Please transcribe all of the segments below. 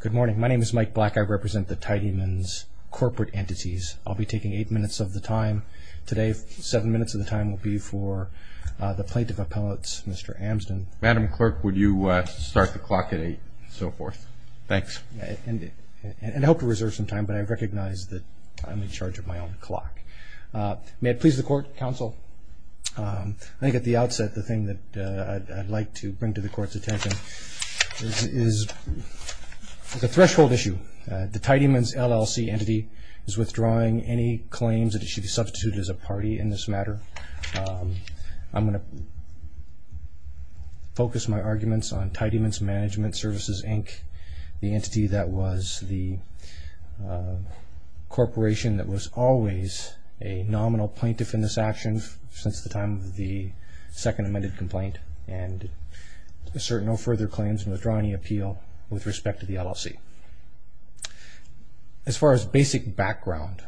Good morning. My name is Mike Black. I represent the Tidymans corporate entities. I'll be taking eight minutes of the time today. Seven minutes of the time will be for the plaintiff appellate, Mr. Amsden. Madam Clerk, would you start the clock at eight and so forth? Thanks. And I hope to reserve some time, but I recognize that I'm in charge of my own clock. May it please the Court, Counsel, I think at the outset the thing that I'd like to bring to the Court's attention is a threshold issue. The Tidymans LLC entity is withdrawing any claims that it should be substituted as a party in this matter. I'm going to focus my arguments on Tidymans Management Services, Inc., the entity that was the corporation that was always a nominal plaintiff in this action since the time of the second amended complaint, and assert no further claims and withdraw any appeal with respect to the LLC. As far as basic background,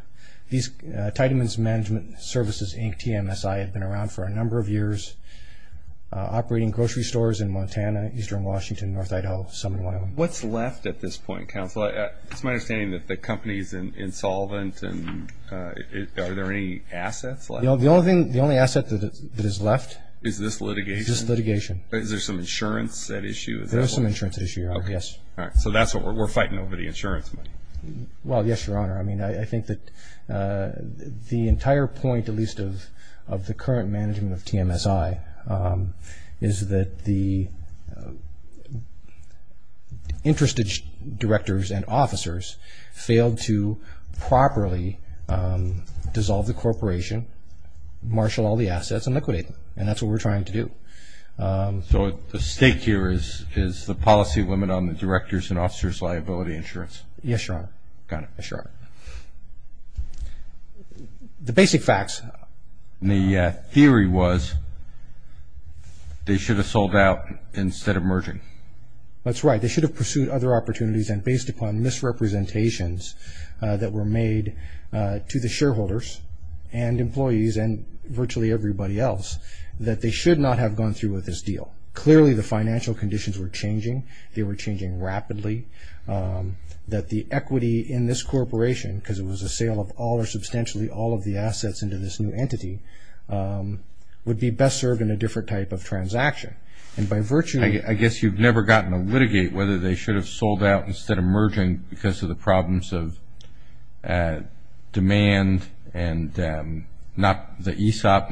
Tidymans Management Services, Inc., TMSI, have been around for a number of years operating grocery stores in Montana, eastern Washington, north Idaho, southern Wyoming. What's left at this point, Counsel? It's my understanding that the company is insolvent. Are there any assets left? The only asset that is left is this litigation. Is there some insurance at issue? Yes. So that's what we're fighting over, the insurance money. Well, yes, Your Honor. I mean, I think that the entire point, at least of the current management of TMSI, is that the interested directors and officers failed to properly dissolve the corporation, marshal all the assets, and liquidate them. And that's what we're trying to do. So the stake here is the policy limit on the directors' and officers' liability insurance? Yes, Your Honor. Got it. Yes, Your Honor. The basic facts? The theory was they should have sold out instead of merging. That's right. They should have pursued other opportunities. And based upon misrepresentations that were made to the shareholders and employees and virtually everybody else, that they should not have gone through with this deal. Clearly, the financial conditions were changing. They were changing rapidly. That the equity in this corporation, because it was a sale of all or substantially all of the assets into this new entity, would be best served in a different type of transaction. And by virtue of... I guess you've never gotten to litigate whether they should have sold out instead of merging because of the problems of demand and not the ESOP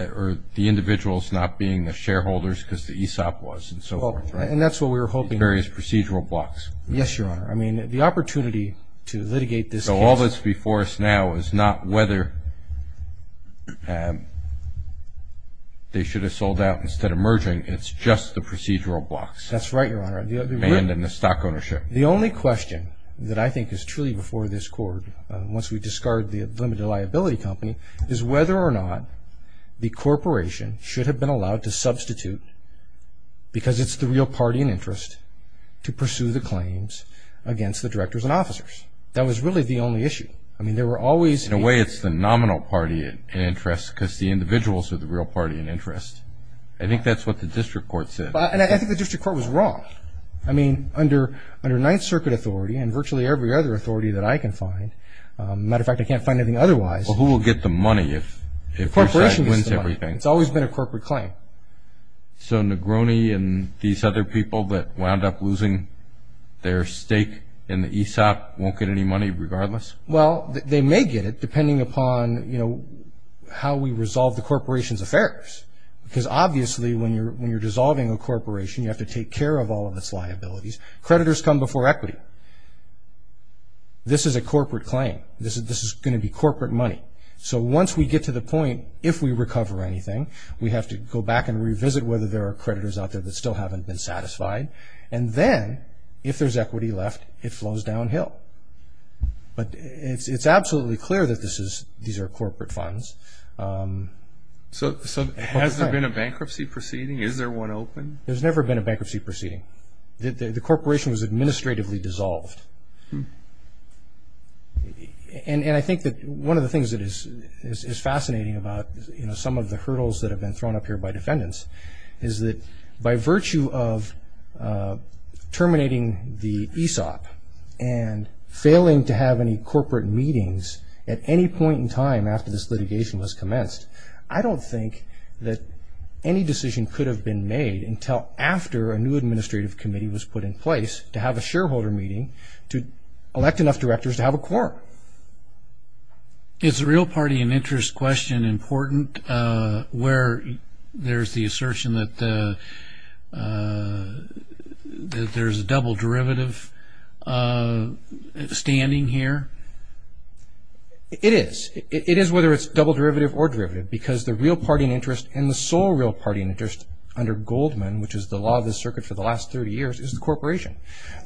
or the individuals not being the shareholders because the ESOP was and so forth. And that's what we were hoping. Various procedural blocks. Yes, Your Honor. I mean, the opportunity to litigate this case... So all that's before us now is not whether they should have sold out instead of merging. It's just the procedural blocks. That's right, Your Honor. And the stock ownership. The only question that I think is truly before this Court, once we discard the limited liability company, is whether or not the corporation should have been allowed to substitute because it's the real party in interest to pursue the claims against the directors and officers. That was really the only issue. I mean, there were always... In a way, it's the nominal party in interest because the individuals are the real party in interest. I think that's what the district court said. And I think the district court was wrong. I mean, under Ninth Circuit authority and virtually every other authority that I can find... As a matter of fact, I can't find anything otherwise. Well, who will get the money if... The corporation gets the money. It's always been a corporate claim. So Negroni and these other people that wound up losing their stake in the ESOP won't get any money regardless? Well, they may get it depending upon, you know, how we resolve the corporation's affairs because obviously when you're dissolving a corporation, you have to take care of all of its liabilities. Creditors come before equity. This is a corporate claim. This is going to be corporate money. So once we get to the point, if we recover anything, we have to go back and revisit whether there are creditors out there that still haven't been satisfied. And then if there's equity left, it flows downhill. But it's absolutely clear that these are corporate funds. So has there been a bankruptcy proceeding? Is there one open? There's never been a bankruptcy proceeding. The corporation was administratively dissolved. And I think that one of the things that is fascinating about, you know, some of the hurdles that have been thrown up here by defendants is that by virtue of terminating the ESOP and failing to have any corporate meetings at any point in time after this litigation was commenced, I don't think that any decision could have been made until after a new administrative committee was put in place to have a shareholder meeting to elect enough directors to have a quorum. Is the real party in interest question important where there's the assertion that there's a double derivative standing here? It is. It is whether it's double derivative or derivative because the real party in interest and the sole real party in interest under Goldman, which is the law of the circuit for the last 30 years, is the corporation.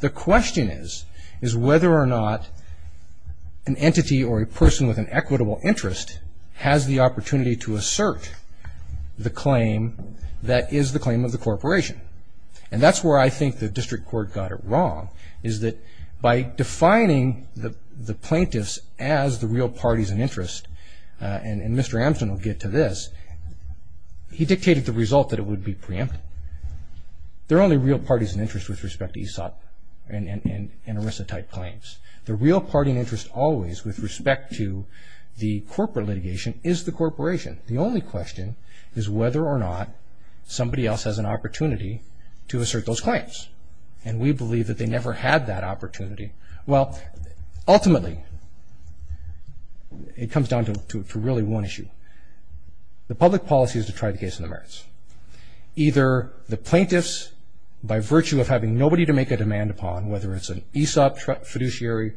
The question is, is whether or not an entity or a person with an equitable interest has the opportunity to assert the claim that is the claim of the corporation. And that's where I think the district court got it wrong, is that by defining the plaintiffs as the real parties in interest, and Mr. Ampson will get to this, he dictated the result that it would be preempt. There are only real parties in interest with respect to ESOP and ERISA type claims. The real party in interest always with respect to the corporate litigation is the corporation. The only question is whether or not somebody else has an opportunity to assert those claims. And we believe that they never had that opportunity. Well, ultimately, it comes down to really one issue. Either the plaintiffs, by virtue of having nobody to make a demand upon, whether it's an ESOP fiduciary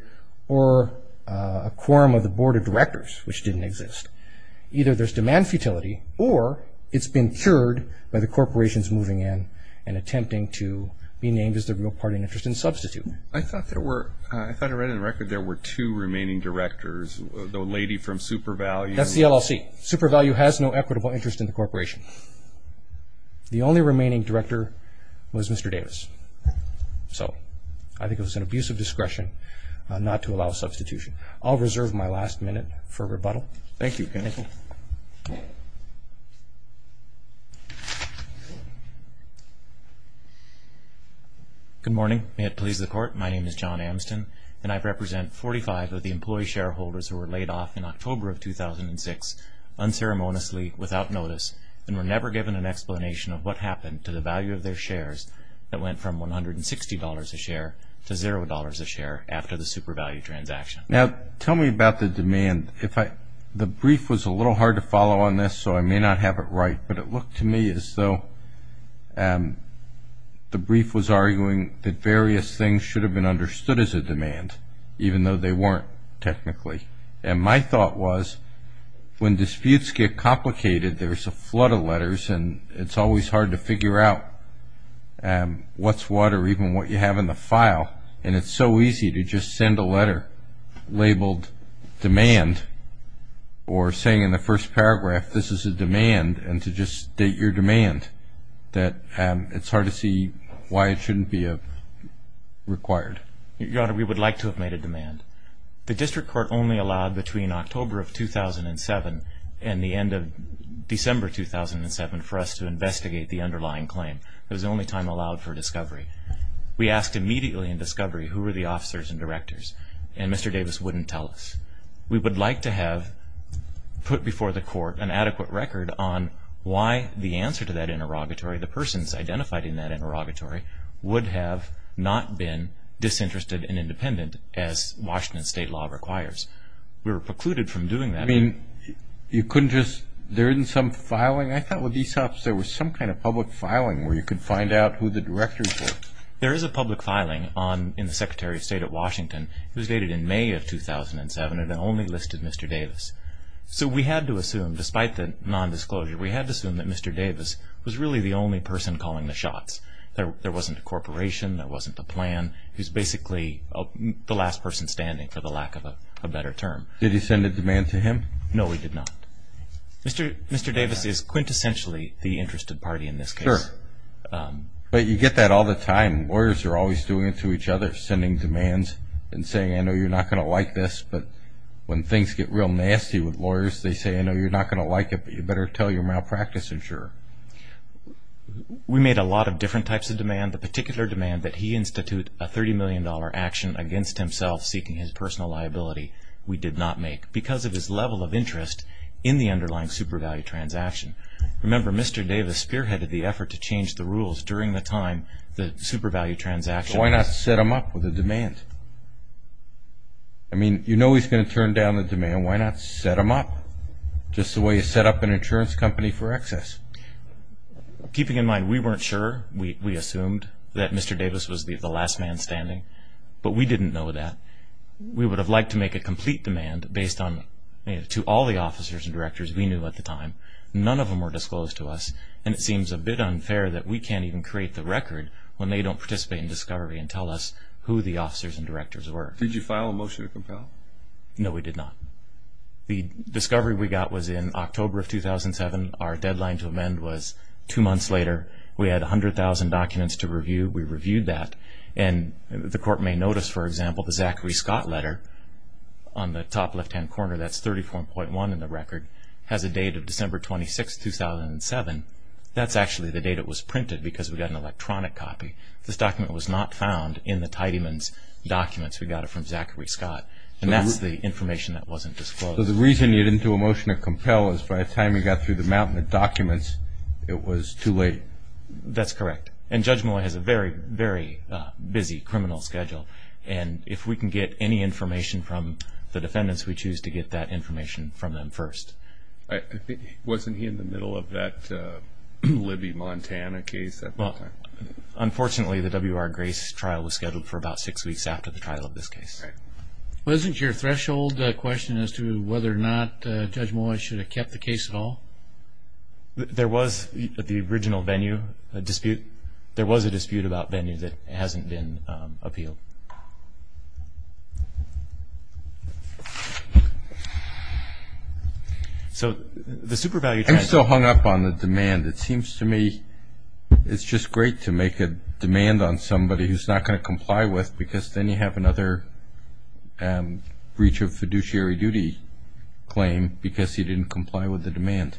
or a quorum of the board of directors, which didn't exist, either there's demand futility or it's been cured by the corporations moving in and attempting to be named as the real party in interest and substitute. I thought I read in the record there were two remaining directors, the lady from SuperValue. That's the LLC. SuperValue has no equitable interest in the corporation. The only remaining director was Mr. Davis. So I think it was an abuse of discretion not to allow substitution. I'll reserve my last minute for rebuttal. Thank you. Good morning. May it please the Court. My name is John Ampson, and I represent 45 of the employee shareholders who were laid off in October of 2006 unceremoniously without notice and were never given an explanation of what happened to the value of their shares that went from $160 a share to $0 a share after the SuperValue transaction. Now, tell me about the demand. The brief was a little hard to follow on this, so I may not have it right, but it looked to me as though the brief was arguing that various things should have been understood as a demand, even though they weren't technically. And my thought was when disputes get complicated, there's a flood of letters and it's always hard to figure out what's what or even what you have in the file, and it's so easy to just send a letter labeled demand or saying in the first paragraph, this is a demand, and to just state your demand, that it's hard to see why it shouldn't be required. Your Honor, we would like to have made a demand. The District Court only allowed between October of 2007 and the end of December 2007 for us to investigate the underlying claim. It was the only time allowed for discovery. We asked immediately in discovery who were the officers and directors, and Mr. Davis wouldn't tell us. We would like to have put before the Court an adequate record on why the answer to that interrogatory, the persons identified in that interrogatory, would have not been disinterested and independent as Washington State law requires. We were precluded from doing that. I mean, you couldn't just, there isn't some filing? I thought with ESOPs there was some kind of public filing where you could find out who the directors were. There is a public filing in the Secretary of State at Washington. It was dated in May of 2007, and it only listed Mr. Davis. So we had to assume, despite the nondisclosure, we had to assume that Mr. Davis was really the only person calling the shots. There wasn't a corporation, there wasn't a plan. He was basically the last person standing, for the lack of a better term. Did he send a demand to him? No, he did not. Mr. Davis is quintessentially the interested party in this case. Sure. But you get that all the time. Lawyers are always doing it to each other, sending demands and saying, I know you're not going to like this, but when things get real nasty with lawyers, they say, I know you're not going to like it, but you better tell your malpractice insurer. We made a lot of different types of demand. The particular demand that he institute a $30 million action against himself, seeking his personal liability, we did not make, because of his level of interest in the underlying super value transaction. Remember, Mr. Davis spearheaded the effort to change the rules during the time the super value transaction was. Why not set him up with a demand? I mean, you know he's going to turn down the demand. Why not set him up just the way you set up an insurance company for excess? Keeping in mind, we weren't sure. We assumed that Mr. Davis was the last man standing, but we didn't know that. We would have liked to make a complete demand based on, to all the officers and directors we knew at the time. None of them were disclosed to us, and it seems a bit unfair that we can't even create the record when they don't participate in discovery and tell us who the officers and directors were. Did you file a motion to compel? No, we did not. The discovery we got was in October of 2007. Our deadline to amend was two months later. We had 100,000 documents to review. We reviewed that, and the court may notice, for example, the Zachary Scott letter on the top left-hand corner, that's 34.1 in the record, has a date of December 26, 2007. That's actually the date it was printed because we got an electronic copy. This document was not found in the Tidyman's documents. We got it from Zachary Scott, and that's the information that wasn't disclosed. So the reason you didn't do a motion to compel is by the time you got through the mountain of documents, it was too late. That's correct, and Judge Molloy has a very, very busy criminal schedule, and if we can get any information from the defendants, we choose to get that information from them first. Wasn't he in the middle of that Libby Montana case? Unfortunately, the W.R. Grace trial was scheduled for about six weeks after the trial of this case. Wasn't your threshold question as to whether or not Judge Molloy should have kept the case at all? There was the original venue dispute. There was a dispute about venue that hasn't been appealed. I'm still hung up on the demand. It seems to me it's just great to make a demand on somebody who's not going to comply with because then you have another breach of fiduciary duty claim because he didn't comply with the demand.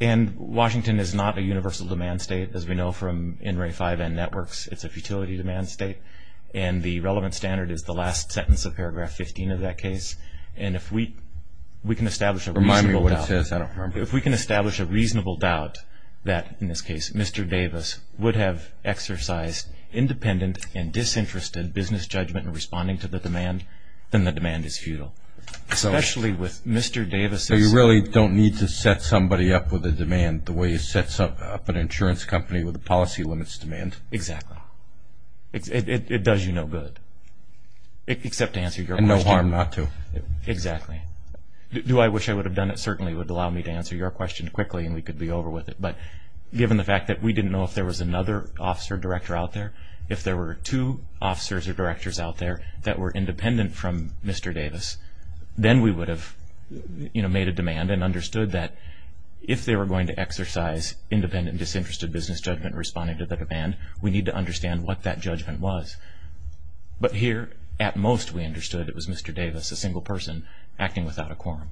And Washington is not a universal demand state. As we know from NRA 5N networks, it's a futility demand state, and the relevant standard is the last sentence of paragraph 15 of that case, and if we can establish a reasonable doubt that, in this case, Mr. Davis would have exercised independent and disinterested business judgment in responding to the demand, then the demand is futile, especially with Mr. Davis' So you really don't need to set somebody up with a demand the way you set up an insurance company with a policy limits demand. Exactly. It does you no good except to answer your question. And no harm not to. Exactly. Do I wish I would have done it certainly would allow me to answer your question quickly and we could be over with it, but given the fact that we didn't know if there was another officer director out there, if there were two officers or directors out there that were independent from Mr. Davis, then we would have made a demand and understood that if they were going to exercise independent and disinterested business judgment in responding to the demand, we need to understand what that judgment was. But here, at most, we understood it was Mr. Davis, a single person, acting without a quorum.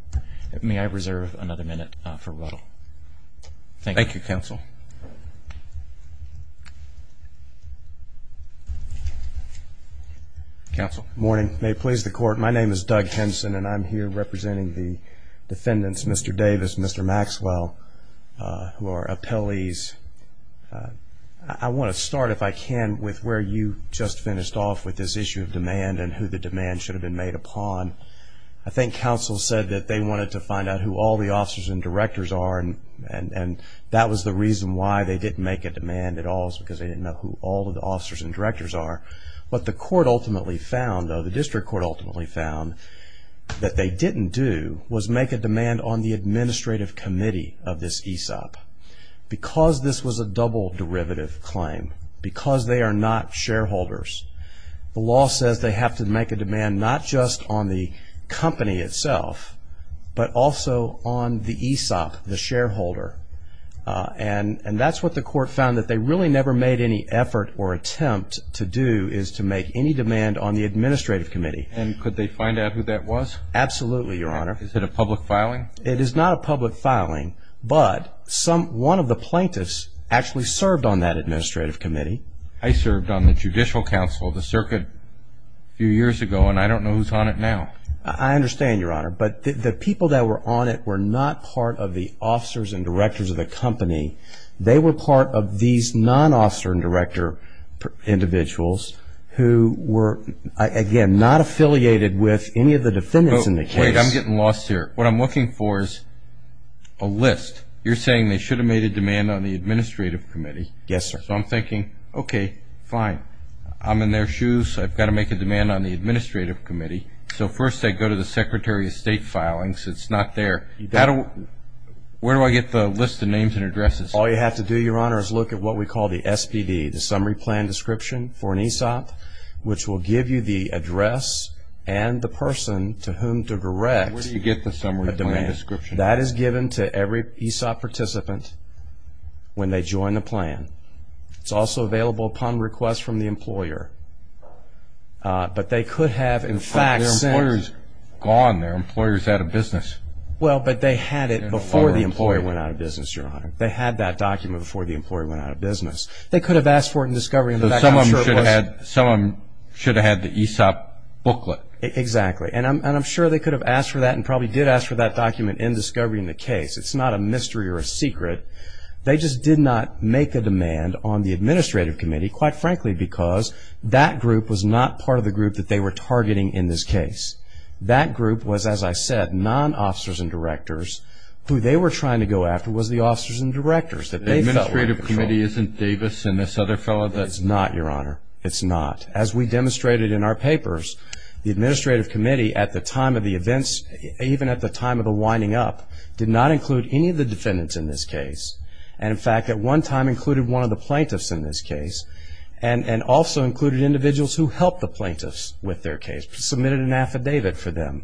May I reserve another minute for Ruttle? Thank you. Thank you, Counsel. Counsel. Good morning. May it please the Court. My name is Doug Henson, and I'm here representing the defendants, Mr. Davis and Mr. Maxwell, who are appellees. I want to start, if I can, with where you just finished off with this issue of demand and who the demand should have been made upon. I think Counsel said that they wanted to find out who all the officers and directors are, and that was the reason why they didn't make a demand at all was because they didn't know who all of the officers and directors are. What the court ultimately found, or the district court ultimately found, that they didn't do was make a demand on the administrative committee of this ESOP. Because this was a double derivative claim, because they are not shareholders, the law says they have to make a demand not just on the company itself, but also on the ESOP, the shareholder. And that's what the court found, that they really never made any effort or attempt to do is to make any demand on the administrative committee. And could they find out who that was? Absolutely, Your Honor. Is it a public filing? It is not a public filing, but one of the plaintiffs actually served on that administrative committee. I served on the judicial council of the circuit a few years ago, and I don't know who's on it now. I understand, Your Honor. But the people that were on it were not part of the officers and directors of the company. They were part of these non-officer and director individuals who were, again, not affiliated with any of the defendants in the case. Wait, I'm getting lost here. What I'm looking for is a list. You're saying they should have made a demand on the administrative committee. Yes, sir. So I'm thinking, okay, fine. I'm in their shoes, so I've got to make a demand on the administrative committee. So first I go to the secretary of state filings. It's not there. Where do I get the list of names and addresses? All you have to do, Your Honor, is look at what we call the SPD, the summary plan description for an ESOP, which will give you the address and the person to whom to direct a demand. Where do you get the summary plan description? That is given to every ESOP participant when they join the plan. It's also available upon request from the employer. But they could have, in fact, sent. But their employer is gone. Their employer is out of business. Well, but they had it before the employer went out of business, Your Honor. They had that document before the employer went out of business. They could have asked for it in discovery. Some of them should have had the ESOP booklet. Exactly. And I'm sure they could have asked for that and probably did ask for that document in discovery in the case. It's not a mystery or a secret. They just did not make a demand on the administrative committee, quite frankly, because that group was not part of the group that they were targeting in this case. That group was, as I said, non-officers and directors. Who they were trying to go after was the officers and directors. The administrative committee isn't Davis and this other fellow? It's not, Your Honor. It's not. As we demonstrated in our papers, the administrative committee, at the time of the events, even at the time of the winding up, did not include any of the defendants in this case. And, in fact, at one time included one of the plaintiffs in this case. And also included individuals who helped the plaintiffs with their case, submitted an affidavit for them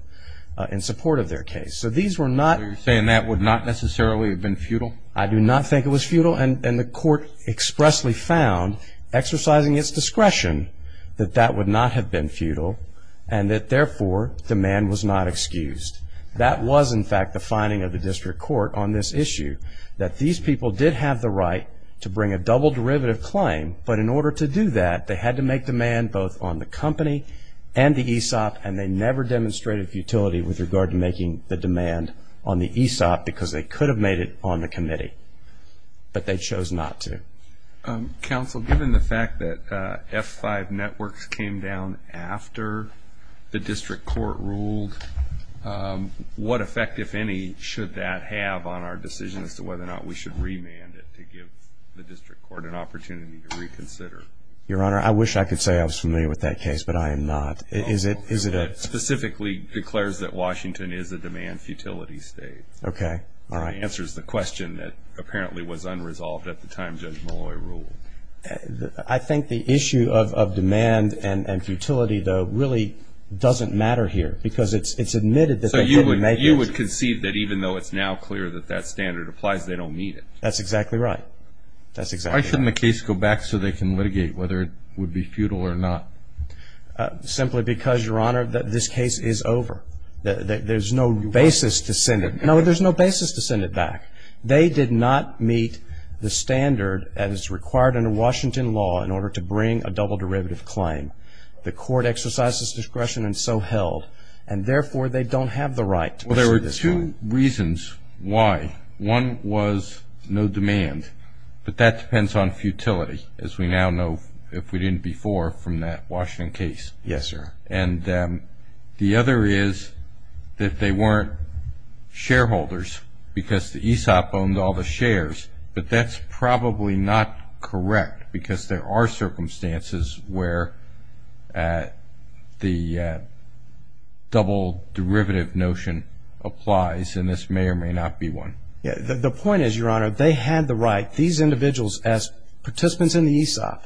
in support of their case. So these were not... So you're saying that would not necessarily have been futile? I do not think it was futile. And the court expressly found, exercising its discretion, that that would not have been futile and that, therefore, demand was not excused. That was, in fact, the finding of the district court on this issue, that these people did have the right to bring a double derivative claim, but in order to do that they had to make demand both on the company and the ESOP and they never demonstrated futility with regard to making the demand on the ESOP because they could have made it on the committee. But they chose not to. Counsel, given the fact that F5 networks came down after the district court ruled, what effect, if any, should that have on our decision as to whether or not we should remand it to give the district court an opportunity to reconsider? Your Honor, I wish I could say I was familiar with that case, but I am not. Is it a... It specifically declares that Washington is a demand-futility state. Okay. All right. It answers the question that apparently was unresolved at the time Judge Malloy ruled. I think the issue of demand and futility, though, really doesn't matter here because it's admitted that they couldn't make it. So you would concede that even though it's now clear that that standard applies, they don't need it? That's exactly right. That's exactly right. Why shouldn't the case go back so they can litigate whether it would be futile or not? Simply because, Your Honor, this case is over. There's no basis to send it. No, there's no basis to send it back. They did not meet the standard that is required under Washington law in order to bring a double derivative claim. The court exercised its discretion and so held, and therefore they don't have the right to pursue this one. Well, there were two reasons why. One was no demand, but that depends on futility, as we now know, if we didn't before from that Washington case. Yes, sir. And the other is that they weren't shareholders because the ESOP owned all the shares, but that's probably not correct because there are circumstances where the double derivative notion applies, and this may or may not be one. The point is, Your Honor, they had the right, these individuals as participants in the ESOP,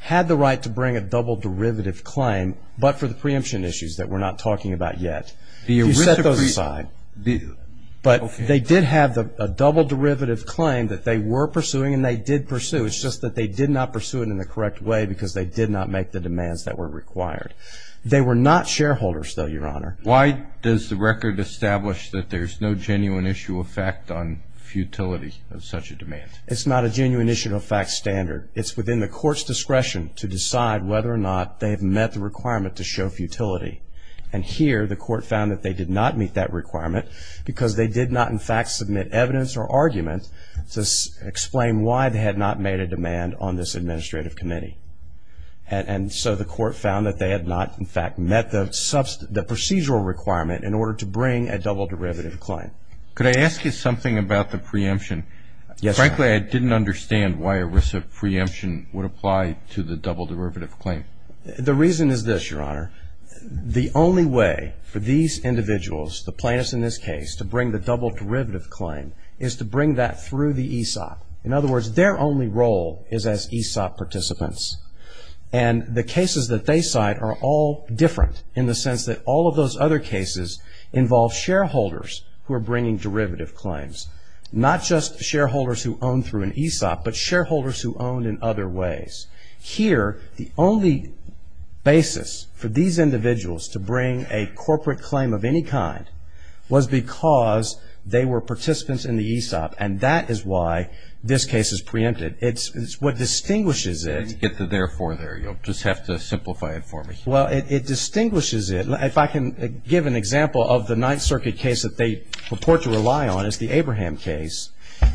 had the right to bring a double derivative claim, but for the preemption issues that we're not talking about yet. You set those aside. But they did have a double derivative claim that they were pursuing and they did pursue. It's just that they did not pursue it in the correct way because they did not make the demands that were required. They were not shareholders, though, Your Honor. Why does the record establish that there's no genuine issue of fact on futility of such a demand? It's not a genuine issue of fact standard. It's within the court's discretion to decide whether or not they have met the requirement to show futility. And here, the court found that they did not meet that requirement because they did not, in fact, submit evidence or argument to explain why they had not made a demand on this administrative committee. And so the court found that they had not, in fact, met the procedural requirement in order to bring a double derivative claim. Could I ask you something about the preemption? Yes, Your Honor. Frankly, I didn't understand why a preemption would apply to the double derivative claim. The reason is this, Your Honor. The only way for these individuals, the plaintiffs in this case, to bring the double derivative claim is to bring that through the ESOP. In other words, their only role is as ESOP participants. And the cases that they cite are all different in the sense that all of those other cases involve shareholders who are bringing derivative claims, not just shareholders who own through an ESOP, but shareholders who own in other ways. Here, the only basis for these individuals to bring a corporate claim of any kind was because they were participants in the ESOP. And that is why this case is preempted. It's what distinguishes it. You didn't get the therefore there. You'll just have to simplify it for me. Well, it distinguishes it. If I can give an example of the Ninth Circuit case that they purport to rely on, it's the Abraham case.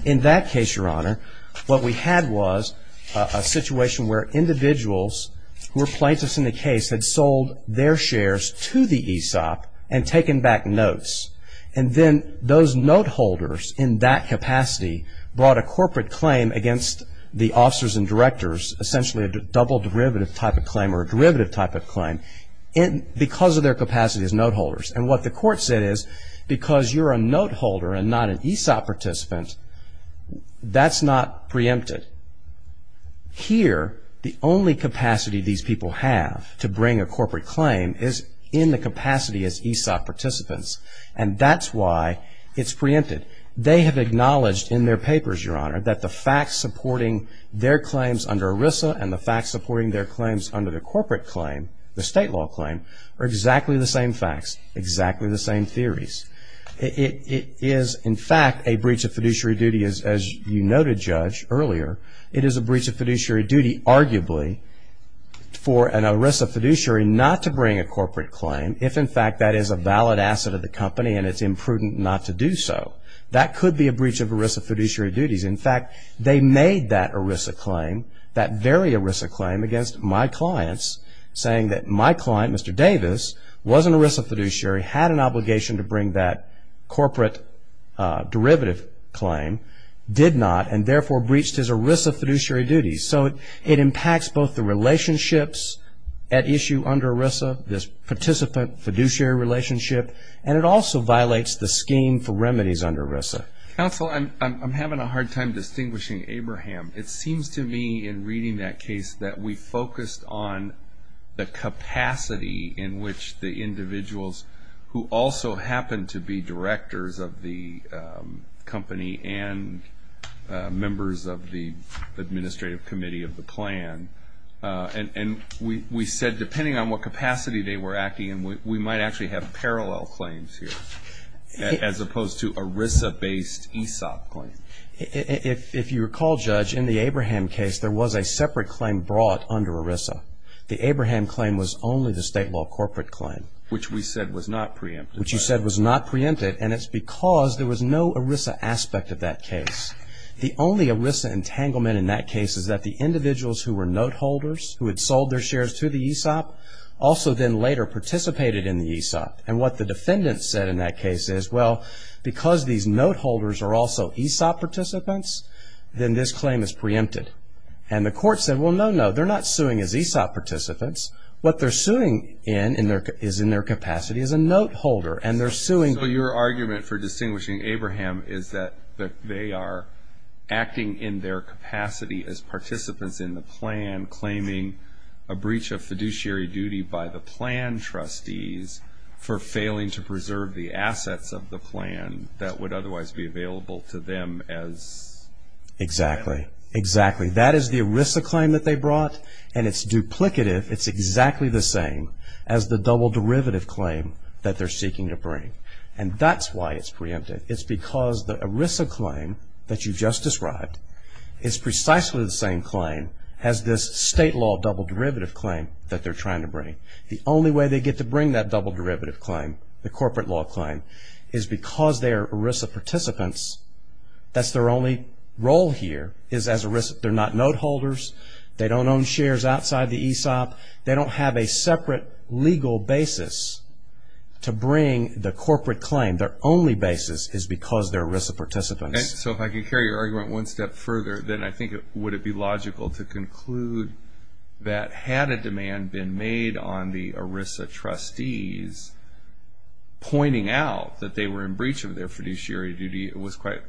In that case, Your Honor, what we had was a situation where individuals who were plaintiffs in the case had sold their shares to the ESOP and taken back notes. And then those note holders in that capacity brought a corporate claim against the officers and directors, essentially a double derivative type of claim or a derivative type of claim, because of their capacity as note holders. And what the court said is, because you're a note holder and not an ESOP participant, that's not preempted. Here, the only capacity these people have to bring a corporate claim is in the capacity as ESOP participants. And that's why it's preempted. They have acknowledged in their papers, Your Honor, that the facts supporting their claims under ERISA and the facts supporting their claims under the corporate claim, the state law claim, are exactly the same facts, exactly the same theories. It is, in fact, a breach of fiduciary duty, as you noted, Judge, earlier. It is a breach of fiduciary duty, arguably, for an ERISA fiduciary not to bring a corporate claim if, in fact, that is a valid asset of the company and it's imprudent not to do so. That could be a breach of ERISA fiduciary duties. In fact, they made that ERISA claim, that very ERISA claim, against my clients, saying that my client, Mr. Davis, was an ERISA fiduciary, had an obligation to bring that corporate derivative claim, did not, and therefore breached his ERISA fiduciary duties. So it impacts both the relationships at issue under ERISA, this participant fiduciary relationship, and it also violates the scheme for remedies under ERISA. Counsel, I'm having a hard time distinguishing Abraham. It seems to me in reading that case that we focused on the capacity in which the individuals who also happened to be directors of the company and members of the administrative committee of the plan, and we said depending on what capacity they were acting in, we might actually have parallel claims here as opposed to ERISA-based ESOP claims. If you recall, Judge, in the Abraham case, there was a separate claim brought under ERISA. The Abraham claim was only the state law corporate claim. Which we said was not preempted. Which you said was not preempted, and it's because there was no ERISA aspect of that case. The only ERISA entanglement in that case is that the individuals who were note holders, who had sold their shares to the ESOP, also then later participated in the ESOP. And what the defendant said in that case is, well, because these note holders are also ESOP participants, then this claim is preempted. And the court said, well, no, no, they're not suing as ESOP participants. What they're suing in is in their capacity as a note holder, and they're suing. So your argument for distinguishing Abraham is that they are acting in their capacity as participants in the plan claiming a breach of fiduciary duty by the plan trustees for failing to preserve the assets of the plan that would otherwise be available to them as... Exactly. Exactly. That is the ERISA claim that they brought, and it's duplicative. It's exactly the same as the double derivative claim that they're seeking to bring. And that's why it's preempted. It's because the ERISA claim that you just described is precisely the same claim The only way they get to bring that double derivative claim, the corporate law claim, is because they're ERISA participants. That's their only role here is as ERISA. They're not note holders. They don't own shares outside the ESOP. They don't have a separate legal basis to bring the corporate claim. Their only basis is because they're ERISA participants. So if I can carry your argument one step further, then I think it would be logical to conclude that had a demand been made on the ERISA trustees pointing out that they were in breach of their fiduciary duty,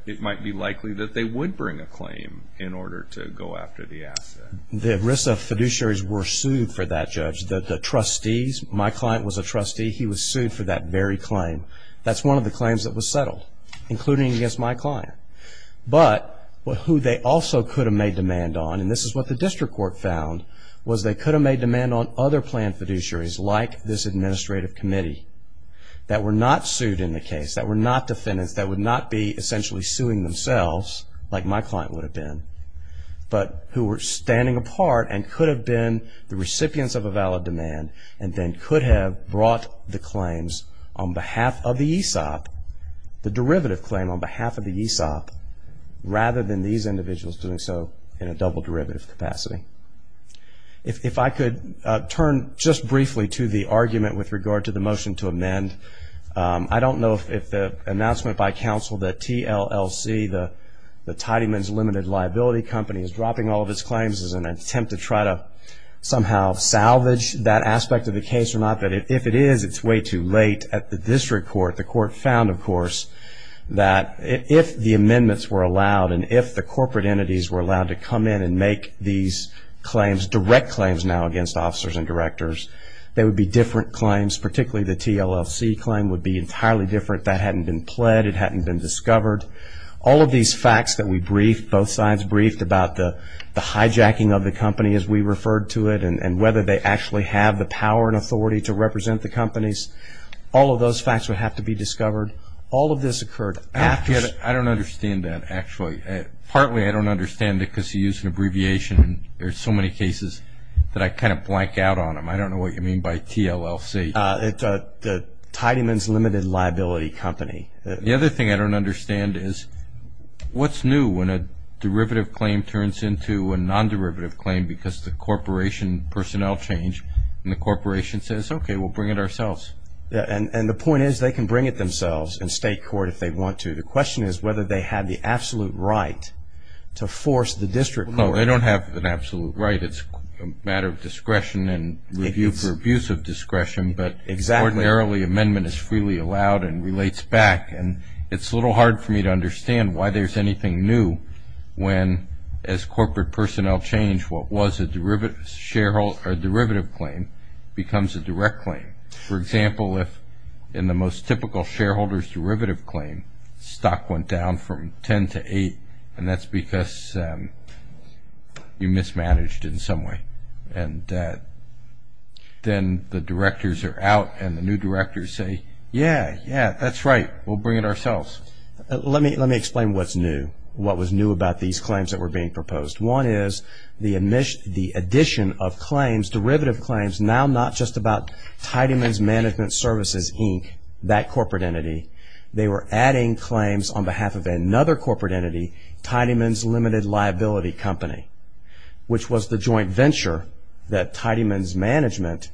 it might be likely that they would bring a claim in order to go after the asset. The ERISA fiduciaries were sued for that, Judge. The trustees, my client was a trustee, he was sued for that very claim. That's one of the claims that was settled, including against my client. But who they also could have made demand on, and this is what the district court found, was they could have made demand on other planned fiduciaries like this administrative committee that were not sued in the case, that were not defendants, that would not be essentially suing themselves like my client would have been, but who were standing apart and could have been the recipients of a valid demand and then could have brought the claims on behalf of the ESOP, the derivative claim on behalf of the ESOP, rather than these individuals doing so in a double derivative capacity. If I could turn just briefly to the argument with regard to the motion to amend, I don't know if the announcement by counsel that TLLC, the Tidyman's Limited Liability Company, is dropping all of its claims as an attempt to try to somehow salvage that aspect of the case or not, but if it is, it's way too late at the district court. The court found, of course, that if the amendments were allowed and if the corporate entities were allowed to come in and make these claims, direct claims now against officers and directors, they would be different claims, particularly the TLLC claim would be entirely different. That hadn't been pled, it hadn't been discovered. All of these facts that we briefed, both sides briefed, about the hijacking of the company as we referred to it and whether they actually have the power and authority to represent the companies, all of those facts would have to be discovered. All of this occurred after... I don't understand that, actually. Partly I don't understand it because you used an abbreviation. There are so many cases that I kind of blank out on them. I don't know what you mean by TLLC. The Tidyman's Limited Liability Company. The other thing I don't understand is what's new when a derivative claim turns into a non-derivative claim because the corporation personnel change and the corporation says, okay, we'll bring it ourselves. And the point is they can bring it themselves in state court if they want to. The question is whether they have the absolute right to force the district court. No, they don't have an absolute right. It's a matter of discretion and review for abuse of discretion. But ordinarily amendment is freely allowed and relates back. And it's a little hard for me to understand why there's anything new when as corporate personnel change what was a derivative claim becomes a direct claim. For example, if in the most typical shareholder's derivative claim stock went down from 10 to 8 and that's because you mismanaged in some way. And then the directors are out and the new directors say, yeah, yeah, that's right, we'll bring it ourselves. Let me explain what's new. What was new about these claims that were being proposed? One is the addition of claims, derivative claims, now not just about Tidyman's Management Services, Inc., that corporate entity. They were adding claims on behalf of another corporate entity, Tidyman's Limited Liability Company, which was the joint venture that Tidyman's Management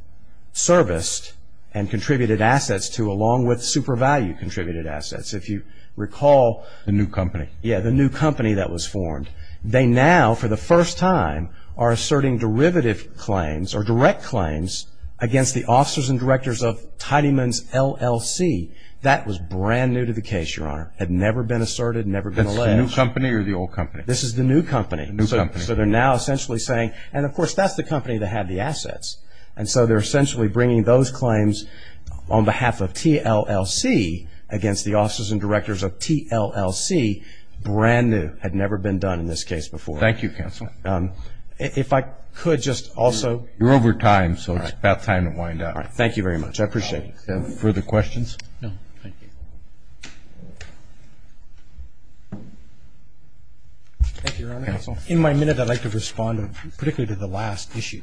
serviced and contributed assets to along with SuperValue contributed assets. If you recall. The new company. Yeah, the new company that was formed. They now, for the first time, are asserting derivative claims or direct claims against the officers and directors of Tidyman's LLC. That was brand new to the case, Your Honor. Had never been asserted, never been alleged. That's the new company or the old company? This is the new company. New company. So they're now essentially saying, and of course that's the company that had the assets. And so they're essentially bringing those claims on behalf of TLLC against the officers and directors of TLLC, brand new. Had never been done in this case before. Thank you, counsel. If I could just also. You're over time, so it's about time to wind up. Thank you very much. I appreciate it. Further questions? No, thank you. Thank you, Your Honor. In my minute, I'd like to respond particularly to the last issue.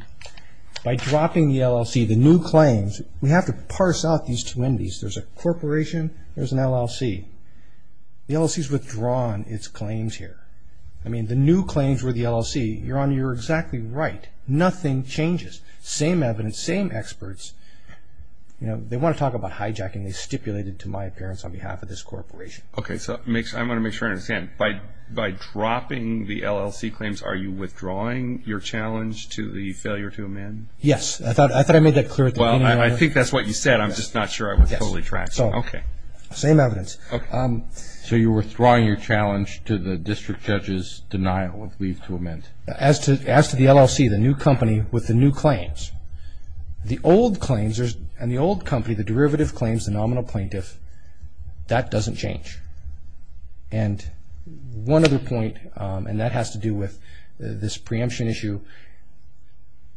By dropping the LLC, the new claims, we have to parse out these two entities. There's a corporation, there's an LLC. The LLC's withdrawn its claims here. I mean, the new claims were the LLC. Your Honor, you're exactly right. Nothing changes. Same evidence, same experts. They want to talk about hijacking. They stipulated to my appearance on behalf of this corporation. Okay, so I want to make sure I understand. By dropping the LLC claims, are you withdrawing your challenge to the failure to amend? Yes. I thought I made that clear at the beginning. Well, I think that's what you said. I'm just not sure I was totally tracking. Okay. Same evidence. So you're withdrawing your challenge to the district judge's denial of leave to amend. As to the LLC, the new company with the new claims, the old claims, and the old company, the derivative claims, the nominal plaintiff, that doesn't change. And one other point, and that has to do with this preemption issue,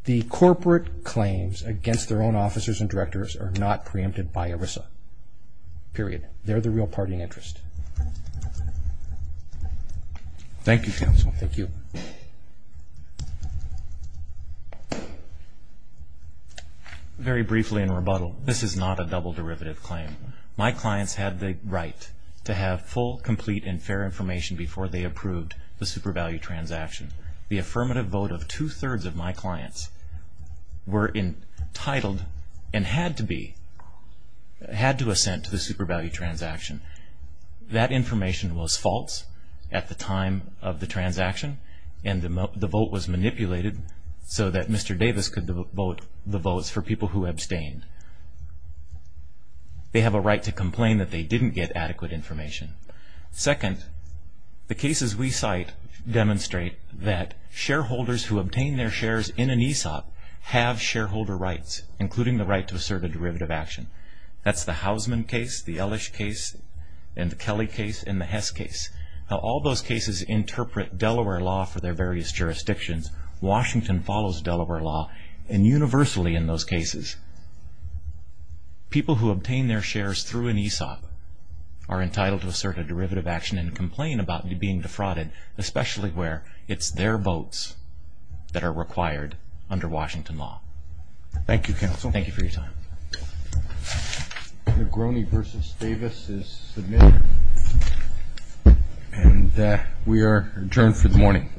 the corporate claims against their own officers and directors are not preempted by ERISA. Period. They're the real party in interest. Thank you, counsel. Thank you. Very briefly in rebuttal, this is not a double derivative claim. My clients had the right to have full, complete, and fair information before they approved the super value transaction. The affirmative vote of two-thirds of my clients were entitled and had to assent to the super value transaction. That information was false at the time of the transaction, and the vote was manipulated so that Mr. Davis could vote the votes for people who abstained. They have a right to complain that they didn't get adequate information. Second, the cases we cite demonstrate that shareholders who obtain their shares in an ESOP have shareholder rights, including the right to assert a derivative action. That's the Hausman case, the Elish case, and the Kelly case, and the Hess case. Now, all those cases interpret Delaware law for their various jurisdictions. Washington follows Delaware law universally in those cases. People who obtain their shares through an ESOP are entitled to assert a derivative action and complain about being defrauded, especially where it's their votes that are required under Washington law. Thank you, counsel. Thank you for your time. Negroni versus Davis is submitted. And we are adjourned for the morning.